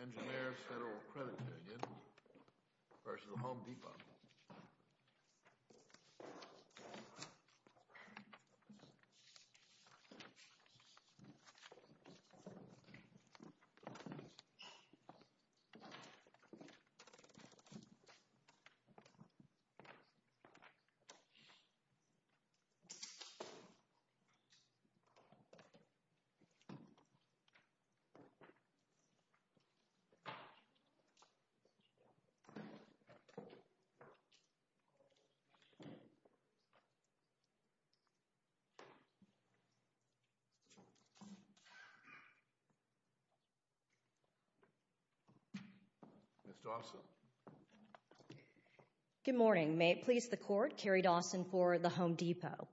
Engineers Federal Credit Union, v. Home Depot, Inc. Good morning, may it please the Court, Carrie Dawson for the Home Depot.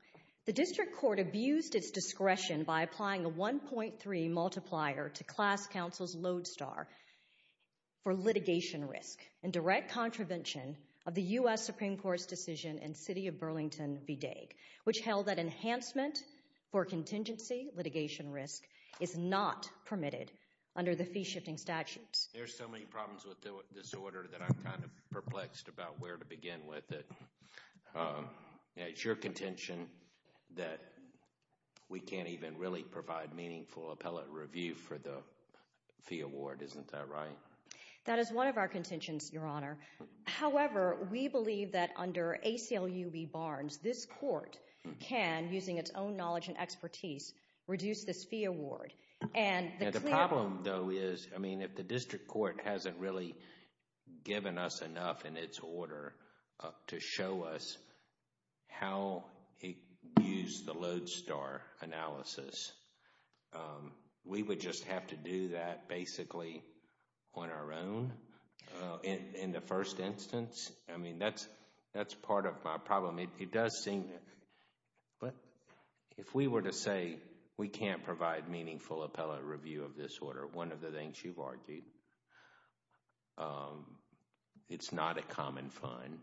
The District Court abused its discretion by applying a 1.3 multiplier to Class Counsel's lodestar for litigation risk and direct contravention of the U.S. Supreme Court's decision in City of Burlington v. Daigle, which held that enhancement for contingency litigation risk is not permitted under the fee-shifting statutes. There are so many problems with this order that I'm kind of perplexed about where to begin with it. It's your contention that we can't even really provide meaningful appellate review for the fee award, isn't that right? That is one of our contentions, Your Honor. However, we believe that under ACLU v. Barnes, this Court can, using its own knowledge and expertise, reduce this fee award. And the problem, though, is, I mean, if the District Court hasn't really given us enough in its order to show us how it used the lodestar analysis, we would just have to do that basically on our own in the first instance. I mean, that's part of my problem. It does seem, but if we were to say we can't provide meaningful appellate review of this it's not a common fund.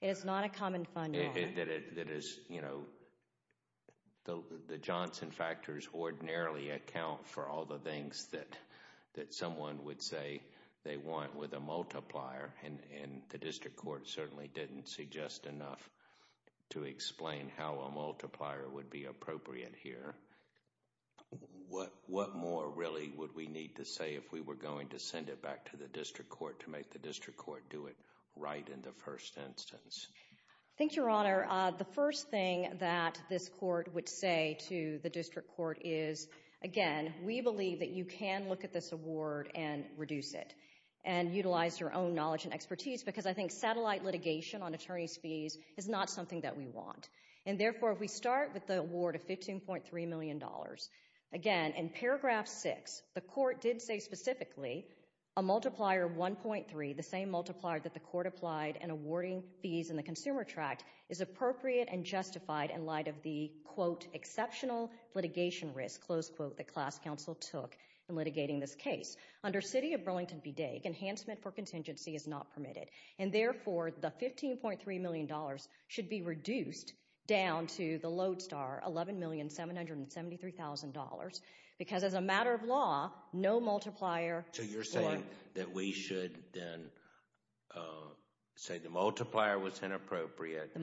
It is not a common fund, Your Honor. That is, you know, the Johnson factors ordinarily account for all the things that someone would say they want with a multiplier, and the District Court certainly didn't suggest enough to explain how a multiplier would be appropriate here. What more, really, would we need to say if we were going to send it back to the District Court to make the District Court do it right in the first instance? I think, Your Honor, the first thing that this Court would say to the District Court is, again, we believe that you can look at this award and reduce it, and utilize your own knowledge and expertise, because I think satellite litigation on attorney's fees is not something that we want. And therefore, if we start with the award of $15.3 million, again, in paragraph six, the Court did say specifically a multiplier of 1.3, the same multiplier that the Court applied in awarding fees in the Consumer Tract, is appropriate and justified in light of the quote, exceptional litigation risk, close quote, that class counsel took in litigating this case. Under City of Burlington v. Daigle, enhancement for contingency is not permitted, and therefore the $15.3 million should be reduced down to the LODESTAR $11,773,000, because as a matter of law, no multiplier... So, you're saying that we should then say the multiplier was inappropriate,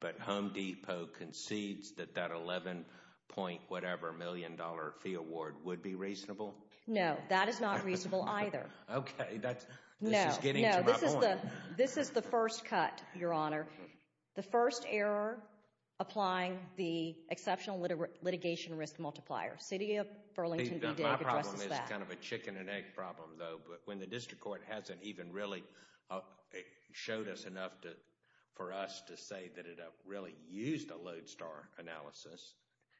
but Home Depot concedes that that $11.-whatever-million fee award would be reasonable? No. That is not reasonable either. Okay, that's... This is the first cut, Your Honor, the first error applying the exceptional litigation risk multiplier. City of Burlington v. Daigle addresses that. My problem is kind of a chicken and egg problem, though, but when the District Court hasn't even really showed us enough for us to say that it really used a LODESTAR analysis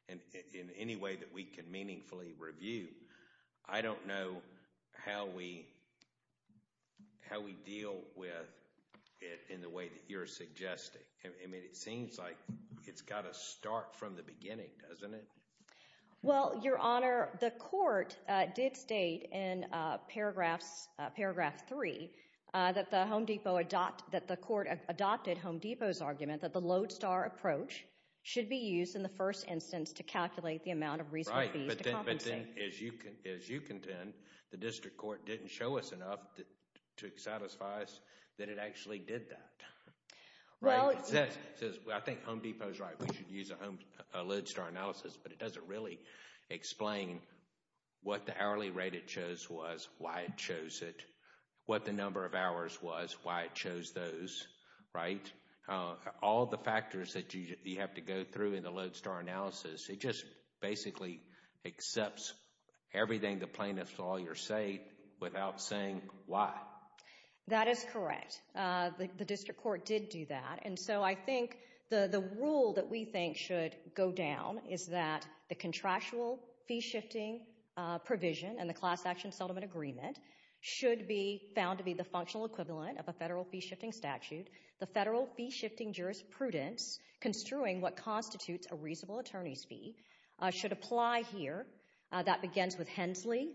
in any way that we can meaningfully review, I don't know how we deal with it in the way that you're suggesting. I mean, it seems like it's got to start from the beginning, doesn't it? Well, Your Honor, the Court did state in Paragraph 3 that the Home Depot... that the Court adopted Home Depot's argument that the LODESTAR approach should be used in the first instance to calculate the amount of reasonable fees to compensate. Right, but then, as you contend, the District Court didn't show us enough to satisfy us that it actually did that. Right? Well... It says, I think Home Depot's right. We should use a LODESTAR analysis, but it doesn't really explain what the hourly rate it chose was, why it chose it, what the number of hours was, why it chose those, right? All the factors that you have to go through in the LODESTAR analysis, it just basically accepts everything the plaintiff saw your say without saying why. That is correct. The District Court did do that, and so I think the rule that we think should go down is that the contractual fee-shifting provision in the Class Action Settlement Agreement should be found to be the functional equivalent of a federal fee-shifting statute. The federal fee-shifting jurisprudence construing what constitutes a reasonable attorney's fee should apply here. That begins with Hensley,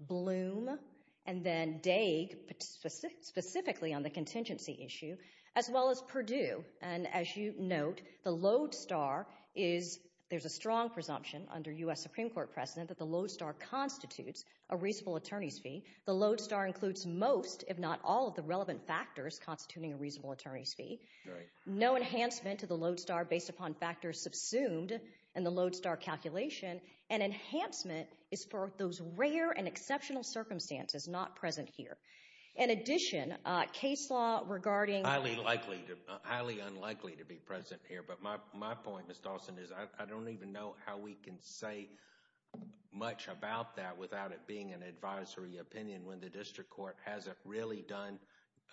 Bloom, and then Daig, specifically on the contingency issue, as well as Perdue. And as you note, the LODESTAR is... there's a strong presumption under U.S. Supreme Court precedent that the LODESTAR constitutes a reasonable attorney's fee. The LODESTAR includes most, if not all, of the relevant factors constituting a reasonable attorney's fee. No enhancement to the LODESTAR based upon factors subsumed in the LODESTAR calculation. An enhancement is for those rare and exceptional circumstances not present here. In addition, case law regarding... Highly unlikely to be present here, but my point, Ms. Dawson, is I don't even know how we can say much about that without it being an advisory opinion when the district court hasn't really done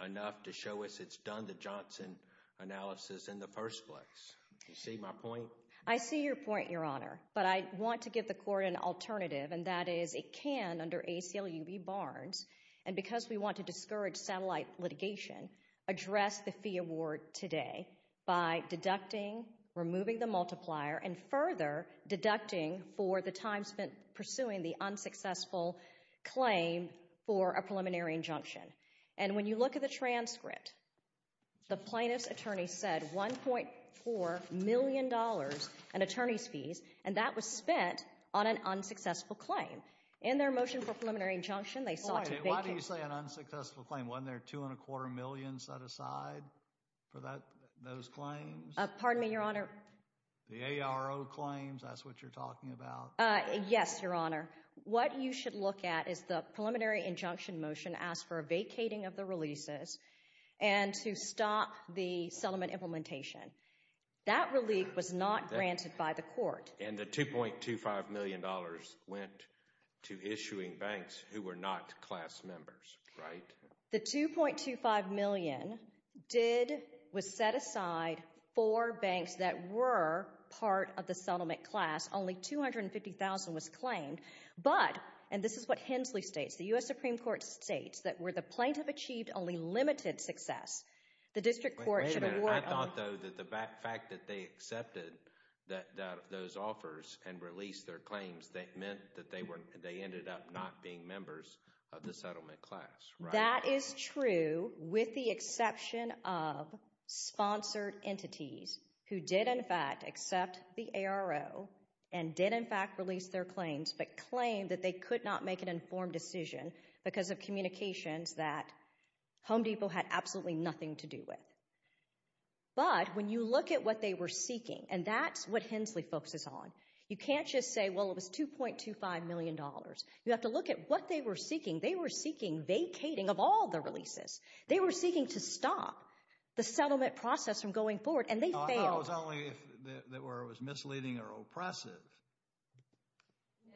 enough to show us it's done the Johnson analysis in the first place. Do you see my point? I see your point, Your Honor. But I want to give the court an alternative, and that is it can, under ACLU v. Barnes, and because we want to discourage satellite litigation, address the fee award today by deducting, removing the multiplier, and further deducting for the time spent pursuing the unsuccessful claim for a preliminary injunction. And when you look at the transcript, the plaintiff's attorney said $1.4 million in attorney's fees, and that was spent on an unsuccessful claim. In their motion for preliminary injunction, they sought to... Why do you say an unsuccessful claim? Wasn't there $2.25 million set aside for those claims? Pardon me, Your Honor. The ARO claims, that's what you're talking about. Yes, Your Honor. What you should look at is the preliminary injunction motion asked for a vacating of the releases and to stop the settlement implementation. That relief was not granted by the court. And the $2.25 million went to issuing banks who were not class members, right? The $2.25 million was set aside for banks that were part of the settlement class. Only $250,000 was claimed, but, and this is what Hensley states, the U.S. Supreme Court states that where the plaintiff achieved only limited success, the district court should award... Wait a minute. I thought, though, that the fact that they accepted those offers and released their claims, that meant that they ended up not being members of the settlement class, right? That is true with the exception of sponsored entities who did, in fact, accept the ARO and did, in fact, release their claims, but claimed that they could not make an informed decision because of communications that Home Depot had absolutely nothing to do with. But when you look at what they were seeking, and that's what Hensley focuses on, you can't just say, well, it was $2.25 million. You have to look at what they were seeking. They were seeking vacating of all the releases. They were seeking to stop the settlement process from going forward, and they failed. No, I thought it was only if it was misleading or oppressive.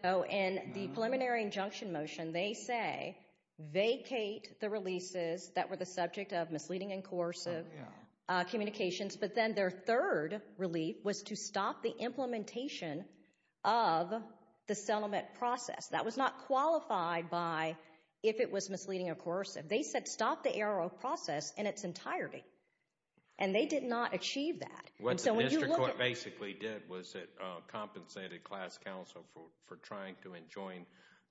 No, in the preliminary injunction motion, they say, vacate the releases that were the subject of misleading and coercive communications, but then their third relief was to stop the implementation of the settlement process. That was not qualified by if it was misleading or coercive. They said, stop the ARO process in its entirety, and they did not achieve that. What the district court basically did was it compensated class counsel for trying to enjoin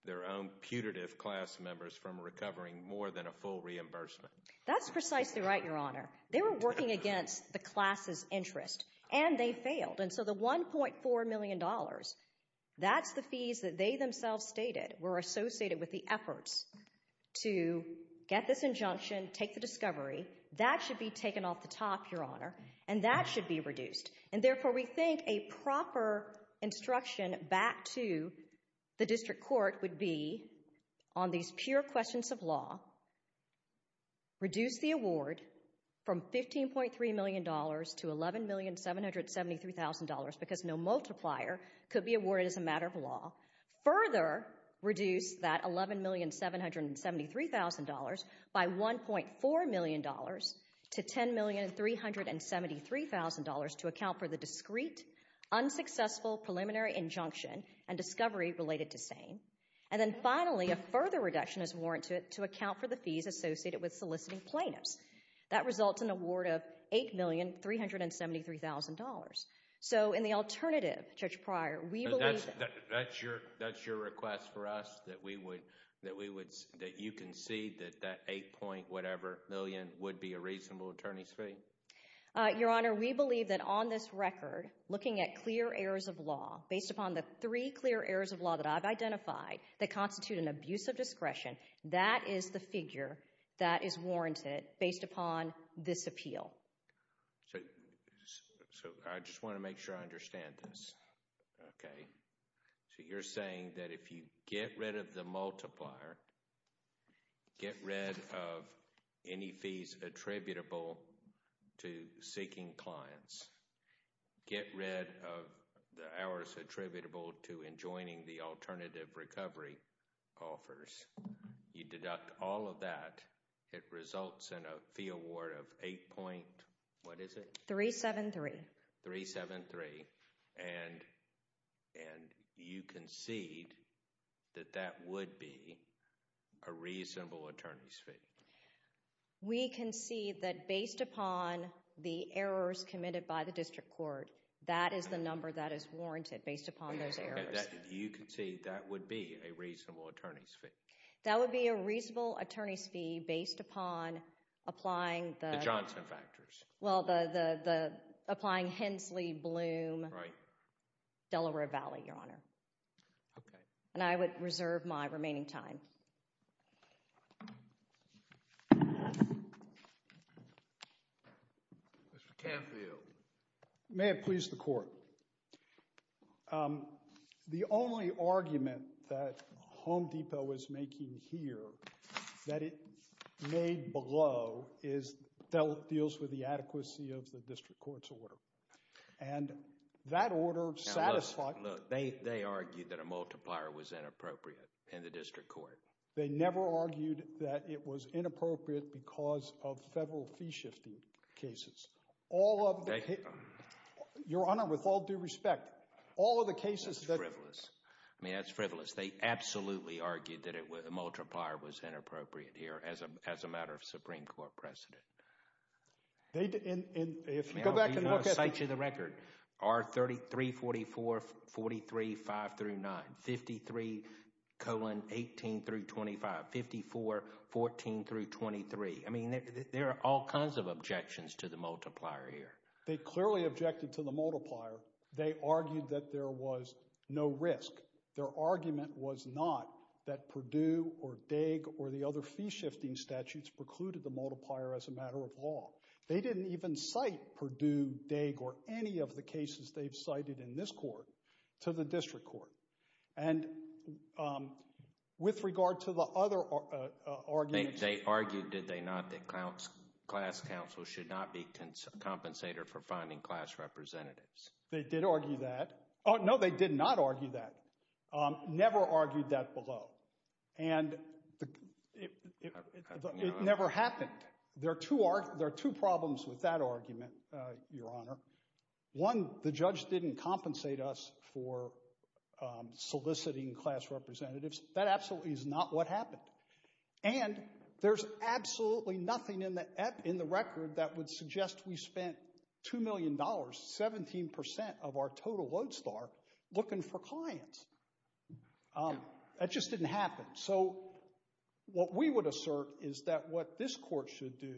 their own putative class members from recovering more than a full reimbursement. That's precisely right, Your Honor. They were working against the class's interest, and they failed, and so the $1.4 million, that's the fees that they themselves stated were associated with the efforts to get this injunction, take the discovery. That should be taken off the top, Your Honor, and that should be reduced, and therefore we think a proper instruction back to the district court would be on these pure questions of law, reduce the award from $15.3 million to $11,773,000 because no multiplier could be awarded as a matter of law, further reduce that $11,773,000 by $1.4 million to $10,373,000 to account for the discrete, unsuccessful preliminary injunction and discovery related to SANE. And then finally, a further reduction is warranted to account for the fees associated with soliciting plaintiffs. That results in an award of $8,373,000. So in the alternative, Judge Pryor, we believe that— That's your request for us, that you concede that that $8 point whatever million would be a reasonable attorney's fee? Your Honor, we believe that on this record, looking at clear errors of law, based upon the three clear errors of law that I've identified that constitute an abuse of discretion, that is the figure that is warranted based upon this appeal. So I just want to make sure I understand this, okay? So you're saying that if you get rid of the multiplier, get rid of any fees attributable to seeking clients, get rid of the hours attributable to enjoining the alternative recovery offers, you deduct all of that, it results in a fee award of $8 point—what is it? $3,733,000. $3,733,000. And you concede that that would be a reasonable attorney's fee? We concede that based upon the errors committed by the district court, that is the number that is warranted based upon those errors. You concede that would be a reasonable attorney's fee? That would be a reasonable attorney's fee based upon applying the— The Johnson factors. Well, the—applying Hensley, Bloom— Right. Delaware Valley, Your Honor. Okay. And I would reserve my remaining time. Mr. Canfield. May it please the Court. The only argument that Home Depot is making here that it made below is that it deals with the adequacy of the district court's order. And that order satisfied— The multiplier was inappropriate in the district court. They never argued that it was inappropriate because of federal fee-shifting cases. All of the— They— Your Honor, with all due respect, all of the cases that— That's frivolous. I mean, that's frivolous. They absolutely argued that a multiplier was inappropriate here as a matter of Supreme Court precedent. They—and if you go back and look at— 53-18-25, 54-14-23. I mean, there are all kinds of objections to the multiplier here. They clearly objected to the multiplier. They argued that there was no risk. Their argument was not that Perdue or Daig or the other fee-shifting statutes precluded the multiplier as a matter of law. They didn't even cite Perdue, Daig, or any of the cases they've cited in this court to the district court. And with regard to the other arguments— They argued, did they not, that class counsel should not be compensator for finding class representatives. They did argue that. Oh, no, they did not argue that. Never argued that below. And it never happened. There are two problems with that argument, Your Honor. One, the judge didn't compensate us for soliciting class representatives. That absolutely is not what happened. And there's absolutely nothing in the record that would suggest we spent $2 million, 17% of our total load start, looking for clients. That just didn't happen. So what we would assert is that what this court should do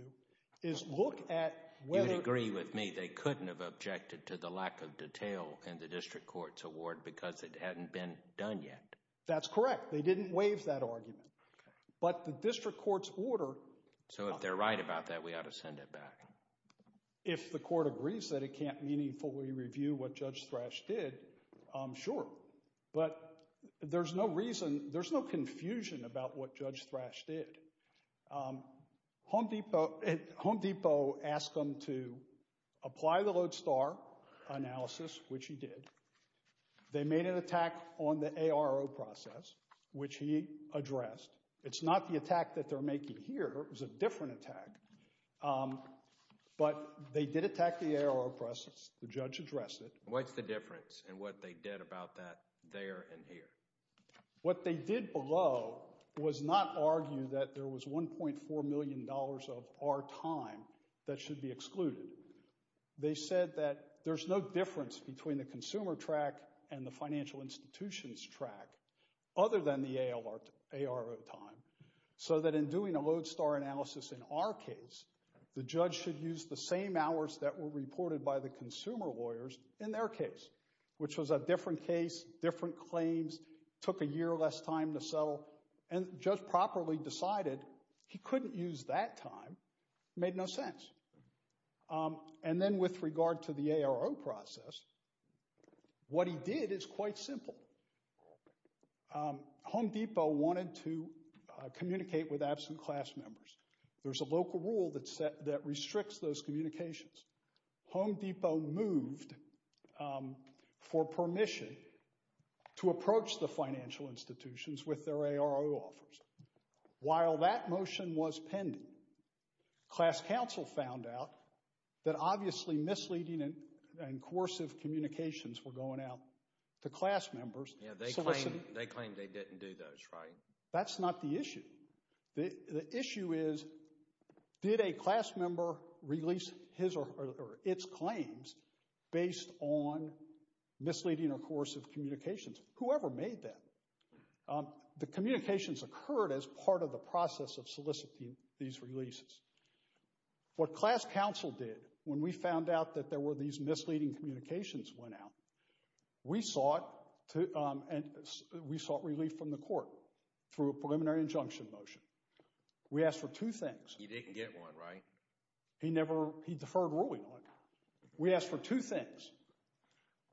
is look at whether— They would have objected to the lack of detail in the district court's award because it hadn't been done yet. That's correct. They didn't waive that argument. But the district court's order— So if they're right about that, we ought to send it back. If the court agrees that it can't meaningfully review what Judge Thrash did, sure. But there's no reason, there's no confusion about what Judge Thrash did. Home Depot asked them to apply the load start analysis, which he did. They made an attack on the ARO process, which he addressed. It's not the attack that they're making here. It was a different attack. But they did attack the ARO process. The judge addressed it. What's the difference in what they did about that there and here? What they did below was not argue that there was $1.4 million of our time that should be excluded. They said that there's no difference between the consumer track and the financial institution's track other than the ARO time. So that in doing a load start analysis in our case, the judge should use the same hours that were reported by the consumer lawyers in their case, which was a different case, different claims, took a year less time to settle, and the judge properly decided he couldn't use that time. It made no sense. And then with regard to the ARO process, what he did is quite simple. Home Depot wanted to communicate with absent class members. There's a local rule that restricts those communications. Home Depot moved for permission to approach the financial institutions with their ARO offers. While that motion was pending, class counsel found out that obviously misleading and coercive communications were going out to class members. Yeah, they claimed they didn't do those, right? That's not the issue. The issue is, did a class member release his or its claims based on misleading or coercive communications? Whoever made that. The communications occurred as part of the process of soliciting these releases. What class counsel did when we found out that there were these misleading communications went out, we sought relief from the court through a preliminary injunction motion. We asked for two things. He didn't get one, right? He deferred ruling on it. We asked for two things.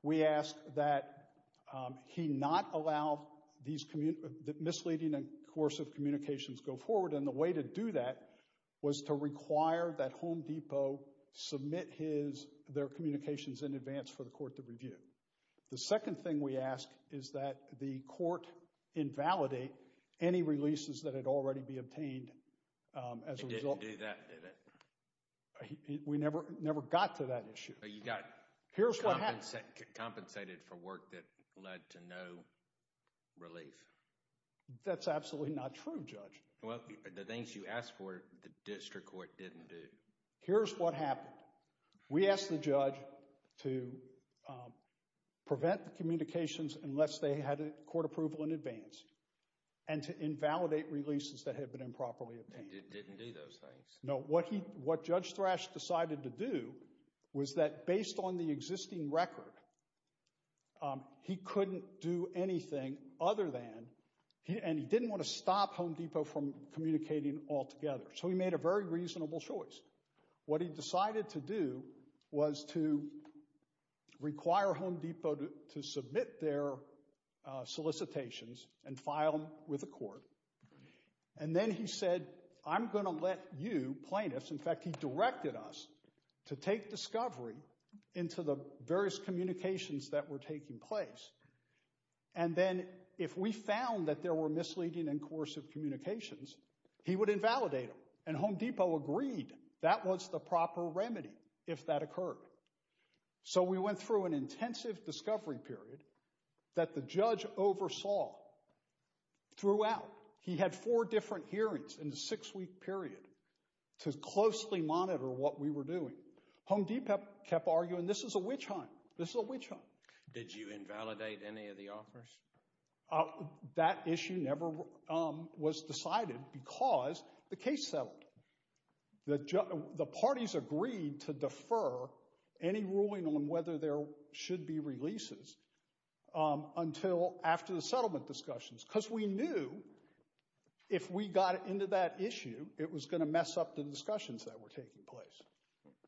We asked that he not allow these misleading and coercive communications go forward, and the way to do that was to require that Home Depot submit their communications in advance for the court to review. The second thing we asked is that the court invalidate any releases that had already been obtained. It didn't do that, did it? We never got to that issue. You got compensated for work that led to no relief. That's absolutely not true, Judge. Well, the things you asked for, the district court didn't do. Here's what happened. We asked the judge to prevent the communications unless they had court approval in advance and to invalidate releases that had been improperly obtained. They didn't do those things. No, what Judge Thrash decided to do was that based on the existing record, he couldn't do anything other than, and he didn't want to stop Home Depot from communicating altogether. So he made a very reasonable choice. What he decided to do was to require Home Depot to submit their solicitations and file them with the court, and then he said, I'm going to let you, plaintiffs, in fact, he directed us to take discovery into the various communications that were taking place, and then if we found that there were misleading and coercive communications, he would invalidate them, and Home Depot agreed that was the proper remedy if that occurred. So we went through an intensive discovery period that the judge oversaw throughout. He had four different hearings in a six-week period to closely monitor what we were doing. Home Depot kept arguing, this is a witch hunt. This is a witch hunt. Did you invalidate any of the offers? That issue never was decided because the case settled. The parties agreed to defer any ruling on whether there should be releases until after the settlement discussions because we knew if we got into that issue, it was going to mess up the discussions that were taking place.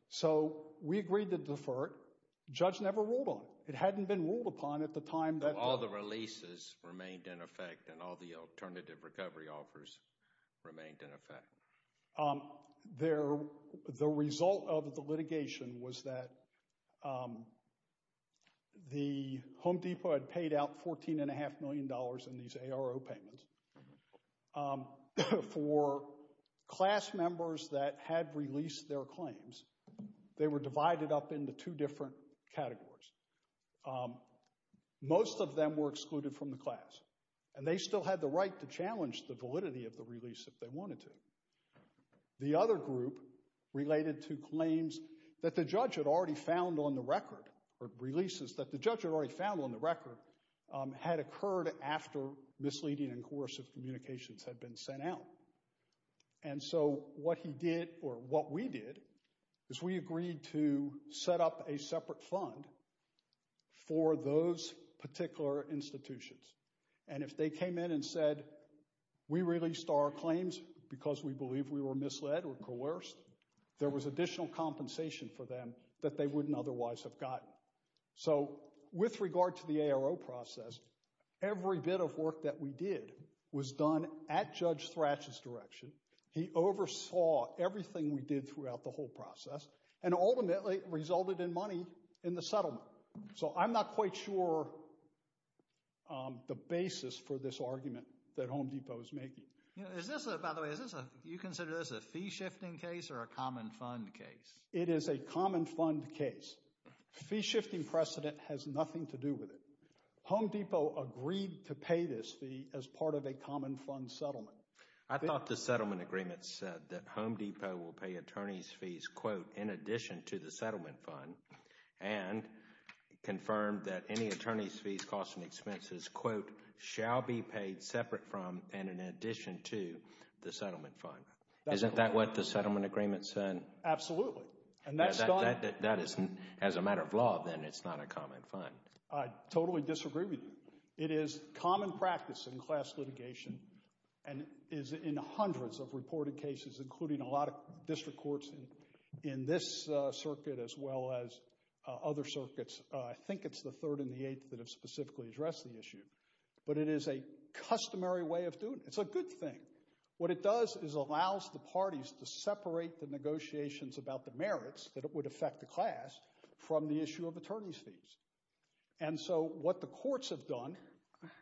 So we agreed to defer it. The judge never ruled on it. It hadn't been ruled upon at the time. So all the releases remained in effect and all the alternative recovery offers remained in effect. The result of the litigation was that the Home Depot had paid out $14.5 million in these ARO payments for class members that had released their claims. They were divided up into two different categories. Most of them were excluded from the class and they still had the right to challenge the validity of the release if they wanted to. The other group related to claims that the judge had already found on the record, or releases that the judge had already found on the record had occurred after misleading and coercive communications had been sent out. And so what he did, or what we did, is we agreed to set up a separate fund for those particular institutions. And if they came in and said we released our claims because we believe we were misled or coerced, there was additional compensation for them that they wouldn't otherwise have gotten. So with regard to the ARO process, every bit of work that we did was done at Judge Thratch's direction. He oversaw everything we did throughout the whole process and ultimately resulted in money in the settlement. So I'm not quite sure the basis for this argument that Home Depot is making. By the way, is this a fee-shifting case or a common fund case? It is a common fund case. Fee-shifting precedent has nothing to do with it. Home Depot agreed to pay this fee as part of a common fund settlement. I thought the settlement agreement said that Home Depot will pay attorney's fees quote, in addition to the settlement fund and confirmed that any attorney's fees, costs and expenses, quote, shall be paid separate from and in addition to the settlement fund. Isn't that what the settlement agreement said? Absolutely. And that's gone? That is, as a matter of law, then it's not a common fund. I totally disagree with you. It is common practice in class litigation and is in hundreds of reported cases including a lot of district courts in this circuit as well as other circuits. I think it's the 3rd and the 8th that have specifically addressed the issue. But it is a customary way of doing it. It's a good thing. What it does is allows the parties to separate the negotiations about the merits that would affect the class from the issue of attorney's fees. And so what the courts have done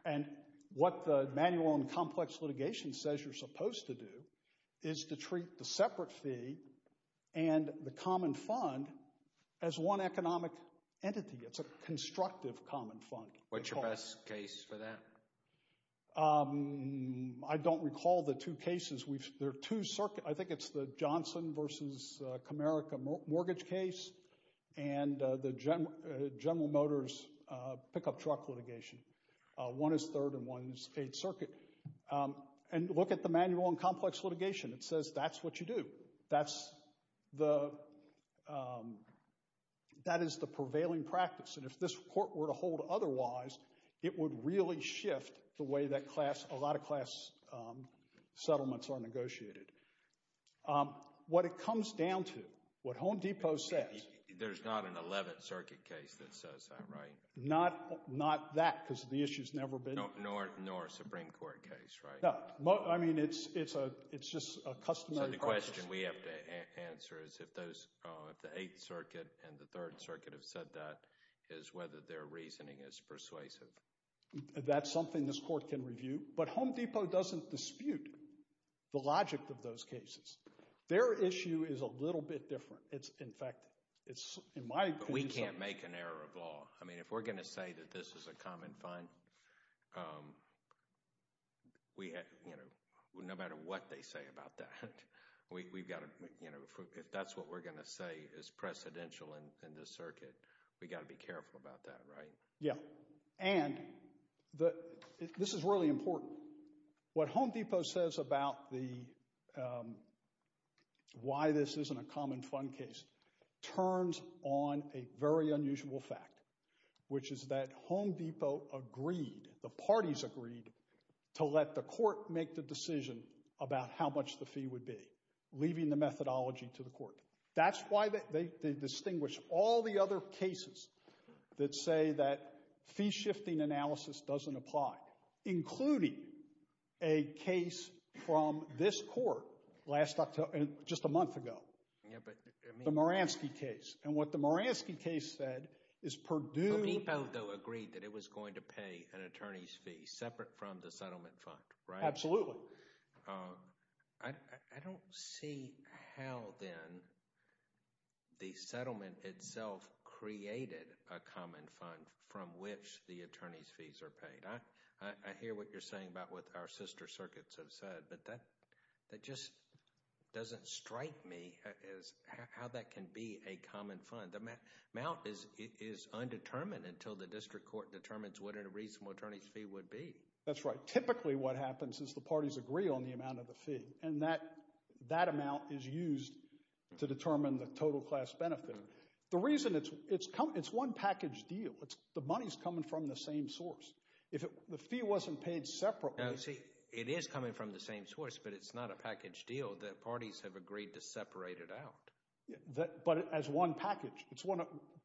and what the manual and complex litigation says you're supposed to do is to treat the separate fee and the common fund as one economic entity. It's a constructive common fund. What's your best case for that? I don't recall the two cases. There are two circuits. I think it's the Johnson v. Comerica mortgage case and General Motors pickup truck litigation. One is 3rd and one is 8th circuit. And look at the manual and complex litigation. It says that's what you do. That is the prevailing practice. And if this court were to hold otherwise it would really shift the way that a lot of class settlements are negotiated. What it comes down to, what Home Depot says... There's not an 11th circuit case that says that, right? Not that because the issue's never been... Nor a Supreme Court case, right? No. I mean it's just a customary practice. So the question we have to answer is if the 8th circuit and the 3rd circuit have said that is whether their reasoning is persuasive. That's something this court can review but Home Depot doesn't dispute the logic of those cases. Their issue is a little bit different. But we can't make an error of law. If we're going to say that this is a common fund no matter what they say about that if that's what we're going to say is precedential in this circuit we've got to be careful about that, right? Yeah. And this is really important. What Home Depot says about the why this isn't a common fund case turns on a very unusual fact which is that Home Depot agreed, the parties agreed to let the court make the decision about how much the fee would be leaving the methodology to the court. That's why they distinguish all the other cases that say that fee shifting analysis doesn't apply including a case from this court just a month ago the Moransky case and what the Moransky case said is Purdue Home Depot agreed that it was going to pay an attorney's fee separate from the settlement fund, right? Absolutely. I don't see how then the settlement itself created a common fund from which the attorney's fees are paid. I hear what you're saying about what our sister circuits have said but that just doesn't strike me as how that can be a common fund. The amount is undetermined until the district court determines what a reasonable attorney's fee would be. That's right. Typically what happens is the parties agree on the amount of the fee and that amount is used to determine the total class benefit. The reason it's one package deal the money is coming from the same source. If the fee wasn't paid separately It is coming from the same source but it's not a package deal that parties have agreed to separate it out. But as one package it's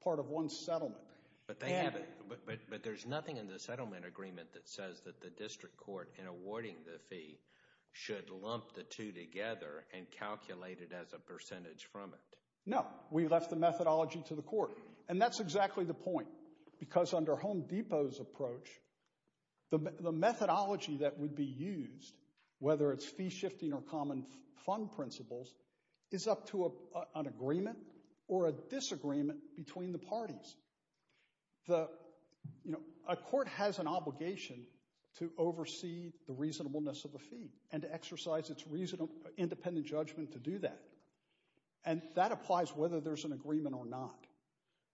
part of one settlement. But there's nothing in the settlement agreement that says that the district court in awarding the fee should lump the two together and calculate it as a percentage from it. No. We left the methodology to the court and that's exactly the point because under Home Depot's approach the methodology that would be used whether it's fee shifting or common fund principles is up to an agreement or a disagreement between the parties. A court has an obligation to oversee the reasonableness of the fee and to exercise its independent judgment to do that and that applies whether there's an agreement or not.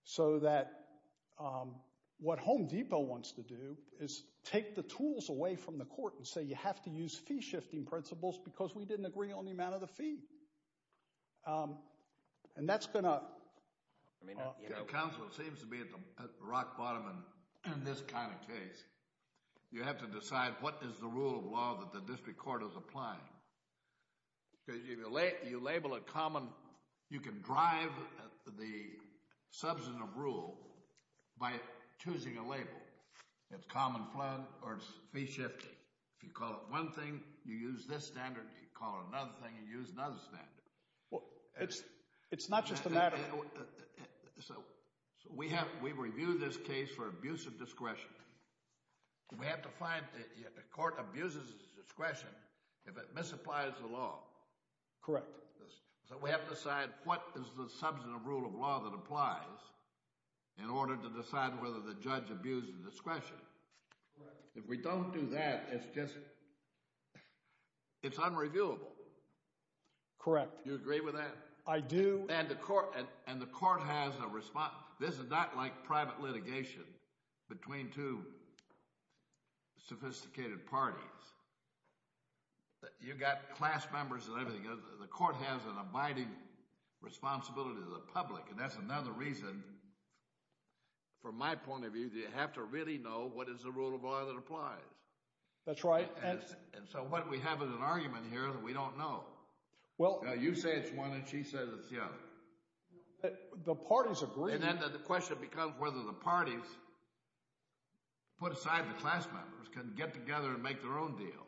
So that what Home Depot wants to do is take the tools away from the court and say you have to use fee shifting principles because we didn't agree on the amount of the fee. And that's going to Your counsel seems to be at rock bottom in this kind of case. You have to decide what is the rule of law that the district court is applying. You label You can drive the substantive rule by choosing a label. It's common fund or it's fee shifting. If you call it one thing, you use this standard if you call it another thing, you use another standard. It's not just a matter of So we have reviewed this case for abuse of discretion. We have to find the court abuses of discretion if it misapplies the law. Correct. So we have to decide what is the substantive rule of law that applies in order to decide whether the judge abuses discretion. If we don't do that, it's just it's unreviewable. Correct. Do you agree with that? I do. And the court has a response. This is not like private litigation between two sophisticated parties. You've got class members and everything. The court has an abiding responsibility to the public and that's another reason from my point of view that you have to really know what is the rule of law that applies. That's right. So what we have is an argument here that we don't know. You say it's one and she says it's the other. The parties agree. The question becomes whether the parties put aside the class members can get together and make their own deal.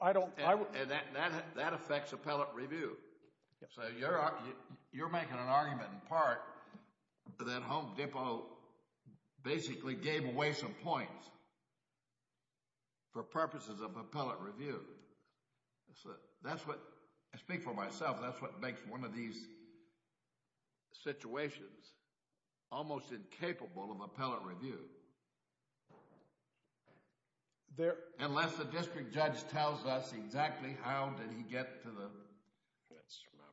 I don't That affects appellate review. You're making an argument in part that Home Depot basically gave away some points for purposes of appellate review. I speak for myself that's what makes one of these situations almost incapable of unless the district judge tells us exactly how did he get to the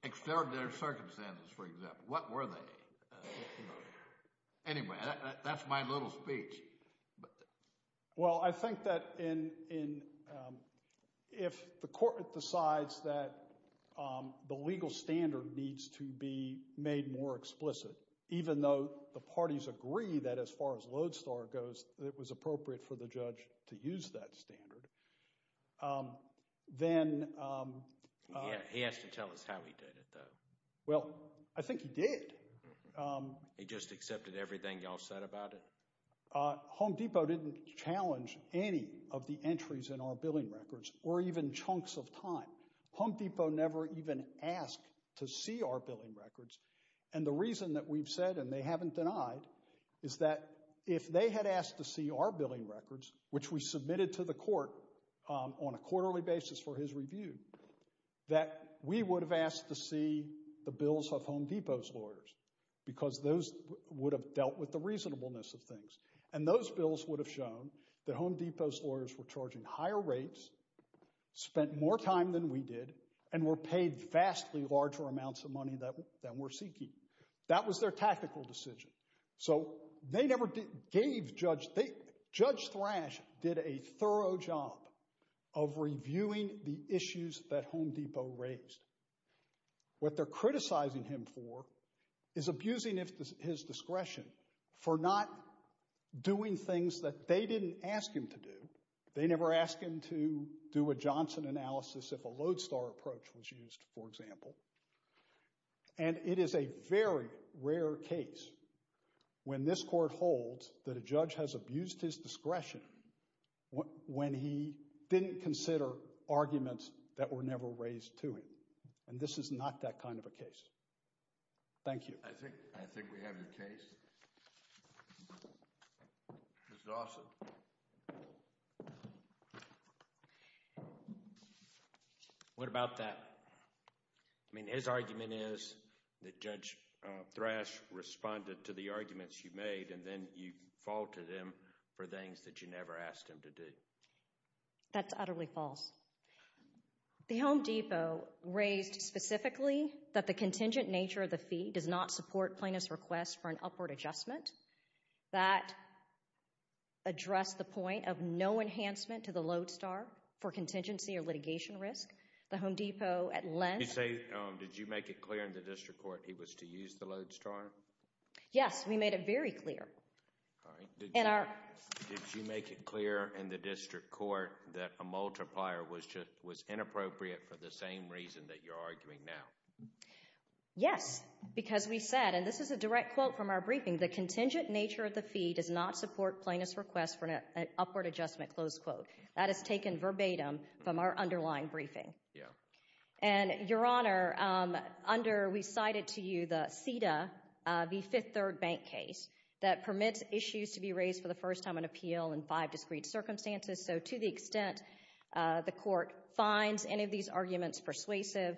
extraordinary circumstances for example. What were they? Anyway that's my little speech. Well I think that in if the court decides that the legal standard needs to be made more explicit even though the parties agree that as far as Lodestar goes it was appropriate for the judge to use that standard then He has to tell us how he did it though. Well I think he did. He just accepted everything y'all said about it? Home Depot didn't challenge any of the entries in our billing records or even chunks of time. Home Depot never even asked to see our billing records and the reason that we've said and they haven't denied is that if they had asked to see our billing records which we submitted to the court on a quarterly basis for his review that we would have asked to see the bills of Home Depot's lawyers because those would have dealt with the reasonableness of things and those bills would have shown that Home Depot's lawyers were charging higher rates spent more time than we did and were paid vastly larger amounts of money than we're seeking. That was their tactical decision. So they never gave Judge Thrash did a thorough job of reviewing the issues that Home Depot raised. What they're criticizing him for is abusing his discretion for not doing things that they didn't ask him to do. They never asked him to do a Johnson analysis if a Lodestar approach was used for example. And it is a very rare case when this court holds that a judge has abused his discretion when he didn't consider arguments that were never raised to him. And this is not that kind of a case. Thank you. I think we have your case. Mr. Dawson. What about that? I mean his argument is that Judge Thrash responded to the arguments you made and then you faulted him for things that you never asked him to do. That's utterly false. The Home Depot raised specifically that the contingent nature of the fee does not support plaintiff's request for an upward adjustment. That addressed the point of no enhancement to the Lodestar for contingency or Did you say, did you make it clear in the district court he was to use the Lodestar? Yes, we made it very clear. Did you make it clear in the district court that a multiplier was inappropriate for the same reason that you're arguing now? Yes. Because we said, and this is a direct quote from our briefing, the contingent nature of the fee does not support plaintiff's request for an upward adjustment. That is taken verbatim from our Your Honor, we cited to you the CEDA, the fifth third bank case that permits issues to be raised for the first time on appeal in five discreet circumstances so to the extent the court finds any of these arguments persuasive,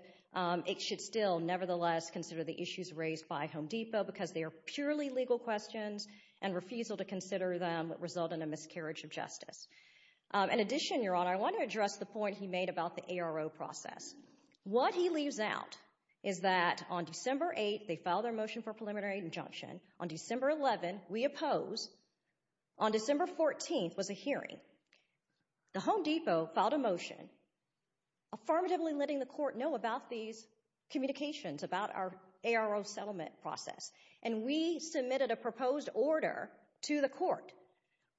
it should still nevertheless consider the issues raised by Home Depot because they are purely legal questions and refusal to consider them result in a miscarriage of justice. In addition Your Honor, I want to address the point he made about the ARO process. What he leaves out is that on December 8th, they filed their motion for preliminary injunction. On December 11th we oppose. On December 14th was a hearing. The Home Depot filed a motion affirmatively letting the court know about these communications about our ARO settlement process and we submitted a proposed order to the court.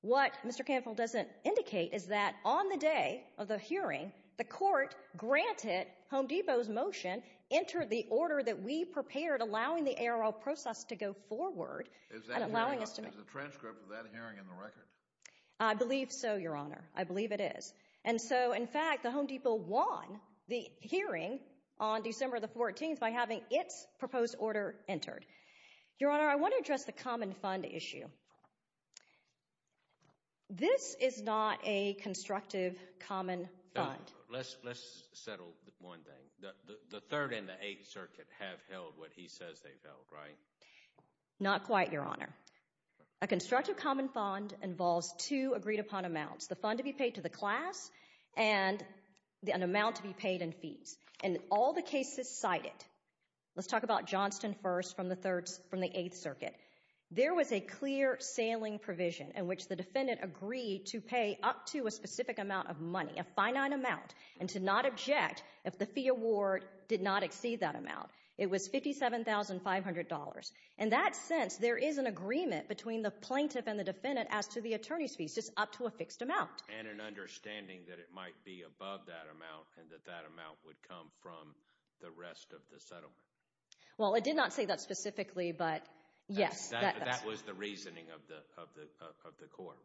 What Mr. Canfield doesn't indicate is that on the day of the hearing, the court granted Home Depot's motion, entered the order that we prepared allowing the ARO process to go forward. Is the transcript of that hearing in the record? I believe so, Your Honor. I believe it is. In fact, the Home Depot won the hearing on December 14th by having its proposed order entered. Your Honor, I want to address the common fund issue. This is not a constructive common fund. Let's settle one thing. The 3rd and the 8th Circuit have held what he says they've held, right? Not quite, Your Honor. A constructive common fund involves two agreed upon amounts. The fund to be paid to the class and an amount to be paid in fees. In all the cases cited, let's talk about Johnston 1st from the 8th Circuit. There was a clear sailing provision in which the defendant agreed to pay up to a specific amount of money, a finite amount, and to not object if the fee award did not exceed that amount. It was $57,500. In that sense, there is an agreement between the plaintiff and the defendant as to the attorney's fees up to a fixed amount. And an understanding that it might be above that amount and that that amount would come from the rest of the settlement. Well, it did not say that specifically, but yes. That was the reasoning of the court,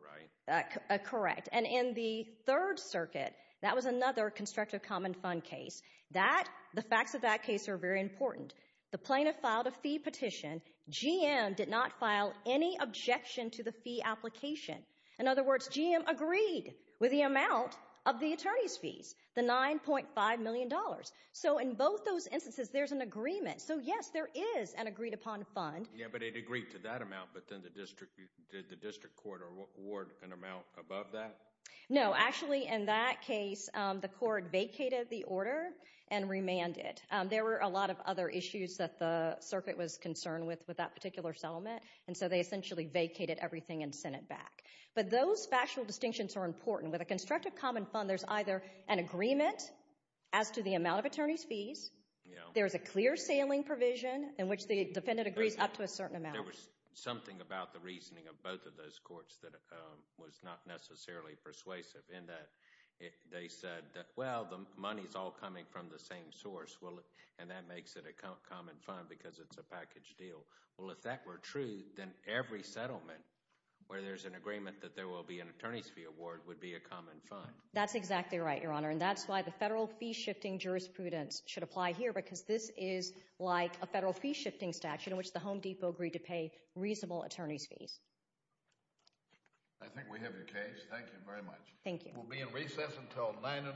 right? Correct. And in the 3rd Circuit, that was another constructive common fund case. The facts of that case are very important. The plaintiff filed a fee petition. GM did not file any objection to the fee application. In other words, GM agreed with the amount of the attorney's fees, the $9.5 million. So in both those instances, there's an agreement. So yes, there is an agreed-upon fund. Yeah, but it agreed to that amount, but did the district court award an amount above that? No. Actually, in that case, the court vacated the order and remanded. There were a lot of other issues that the Circuit was concerned with with that particular settlement, and so they essentially vacated everything and sent it back. But those factual distinctions are important. With a constructive common fund, there's either an agreement as to the amount of attorney's fees. There's a clear sailing provision in which the defendant agrees up to a certain amount. There was something about the reasoning of both of those courts that was not necessarily persuasive in that they said, well, the money's all coming from the same source and that makes it a common fund because it's a packaged deal. Well, if that were true, then every settlement where there's an agreement that there will be an attorney's fee award would be a common fund. That's exactly right, Your Honor, and that's why the federal fee-shifting jurisprudence should apply here because this is like a federal fee-shifting statute in which the Home Depot agreed to pay reasonable attorney's fees. I think we have your case. Thank you very much. Thank you. We'll be in recess until 9 in the morning.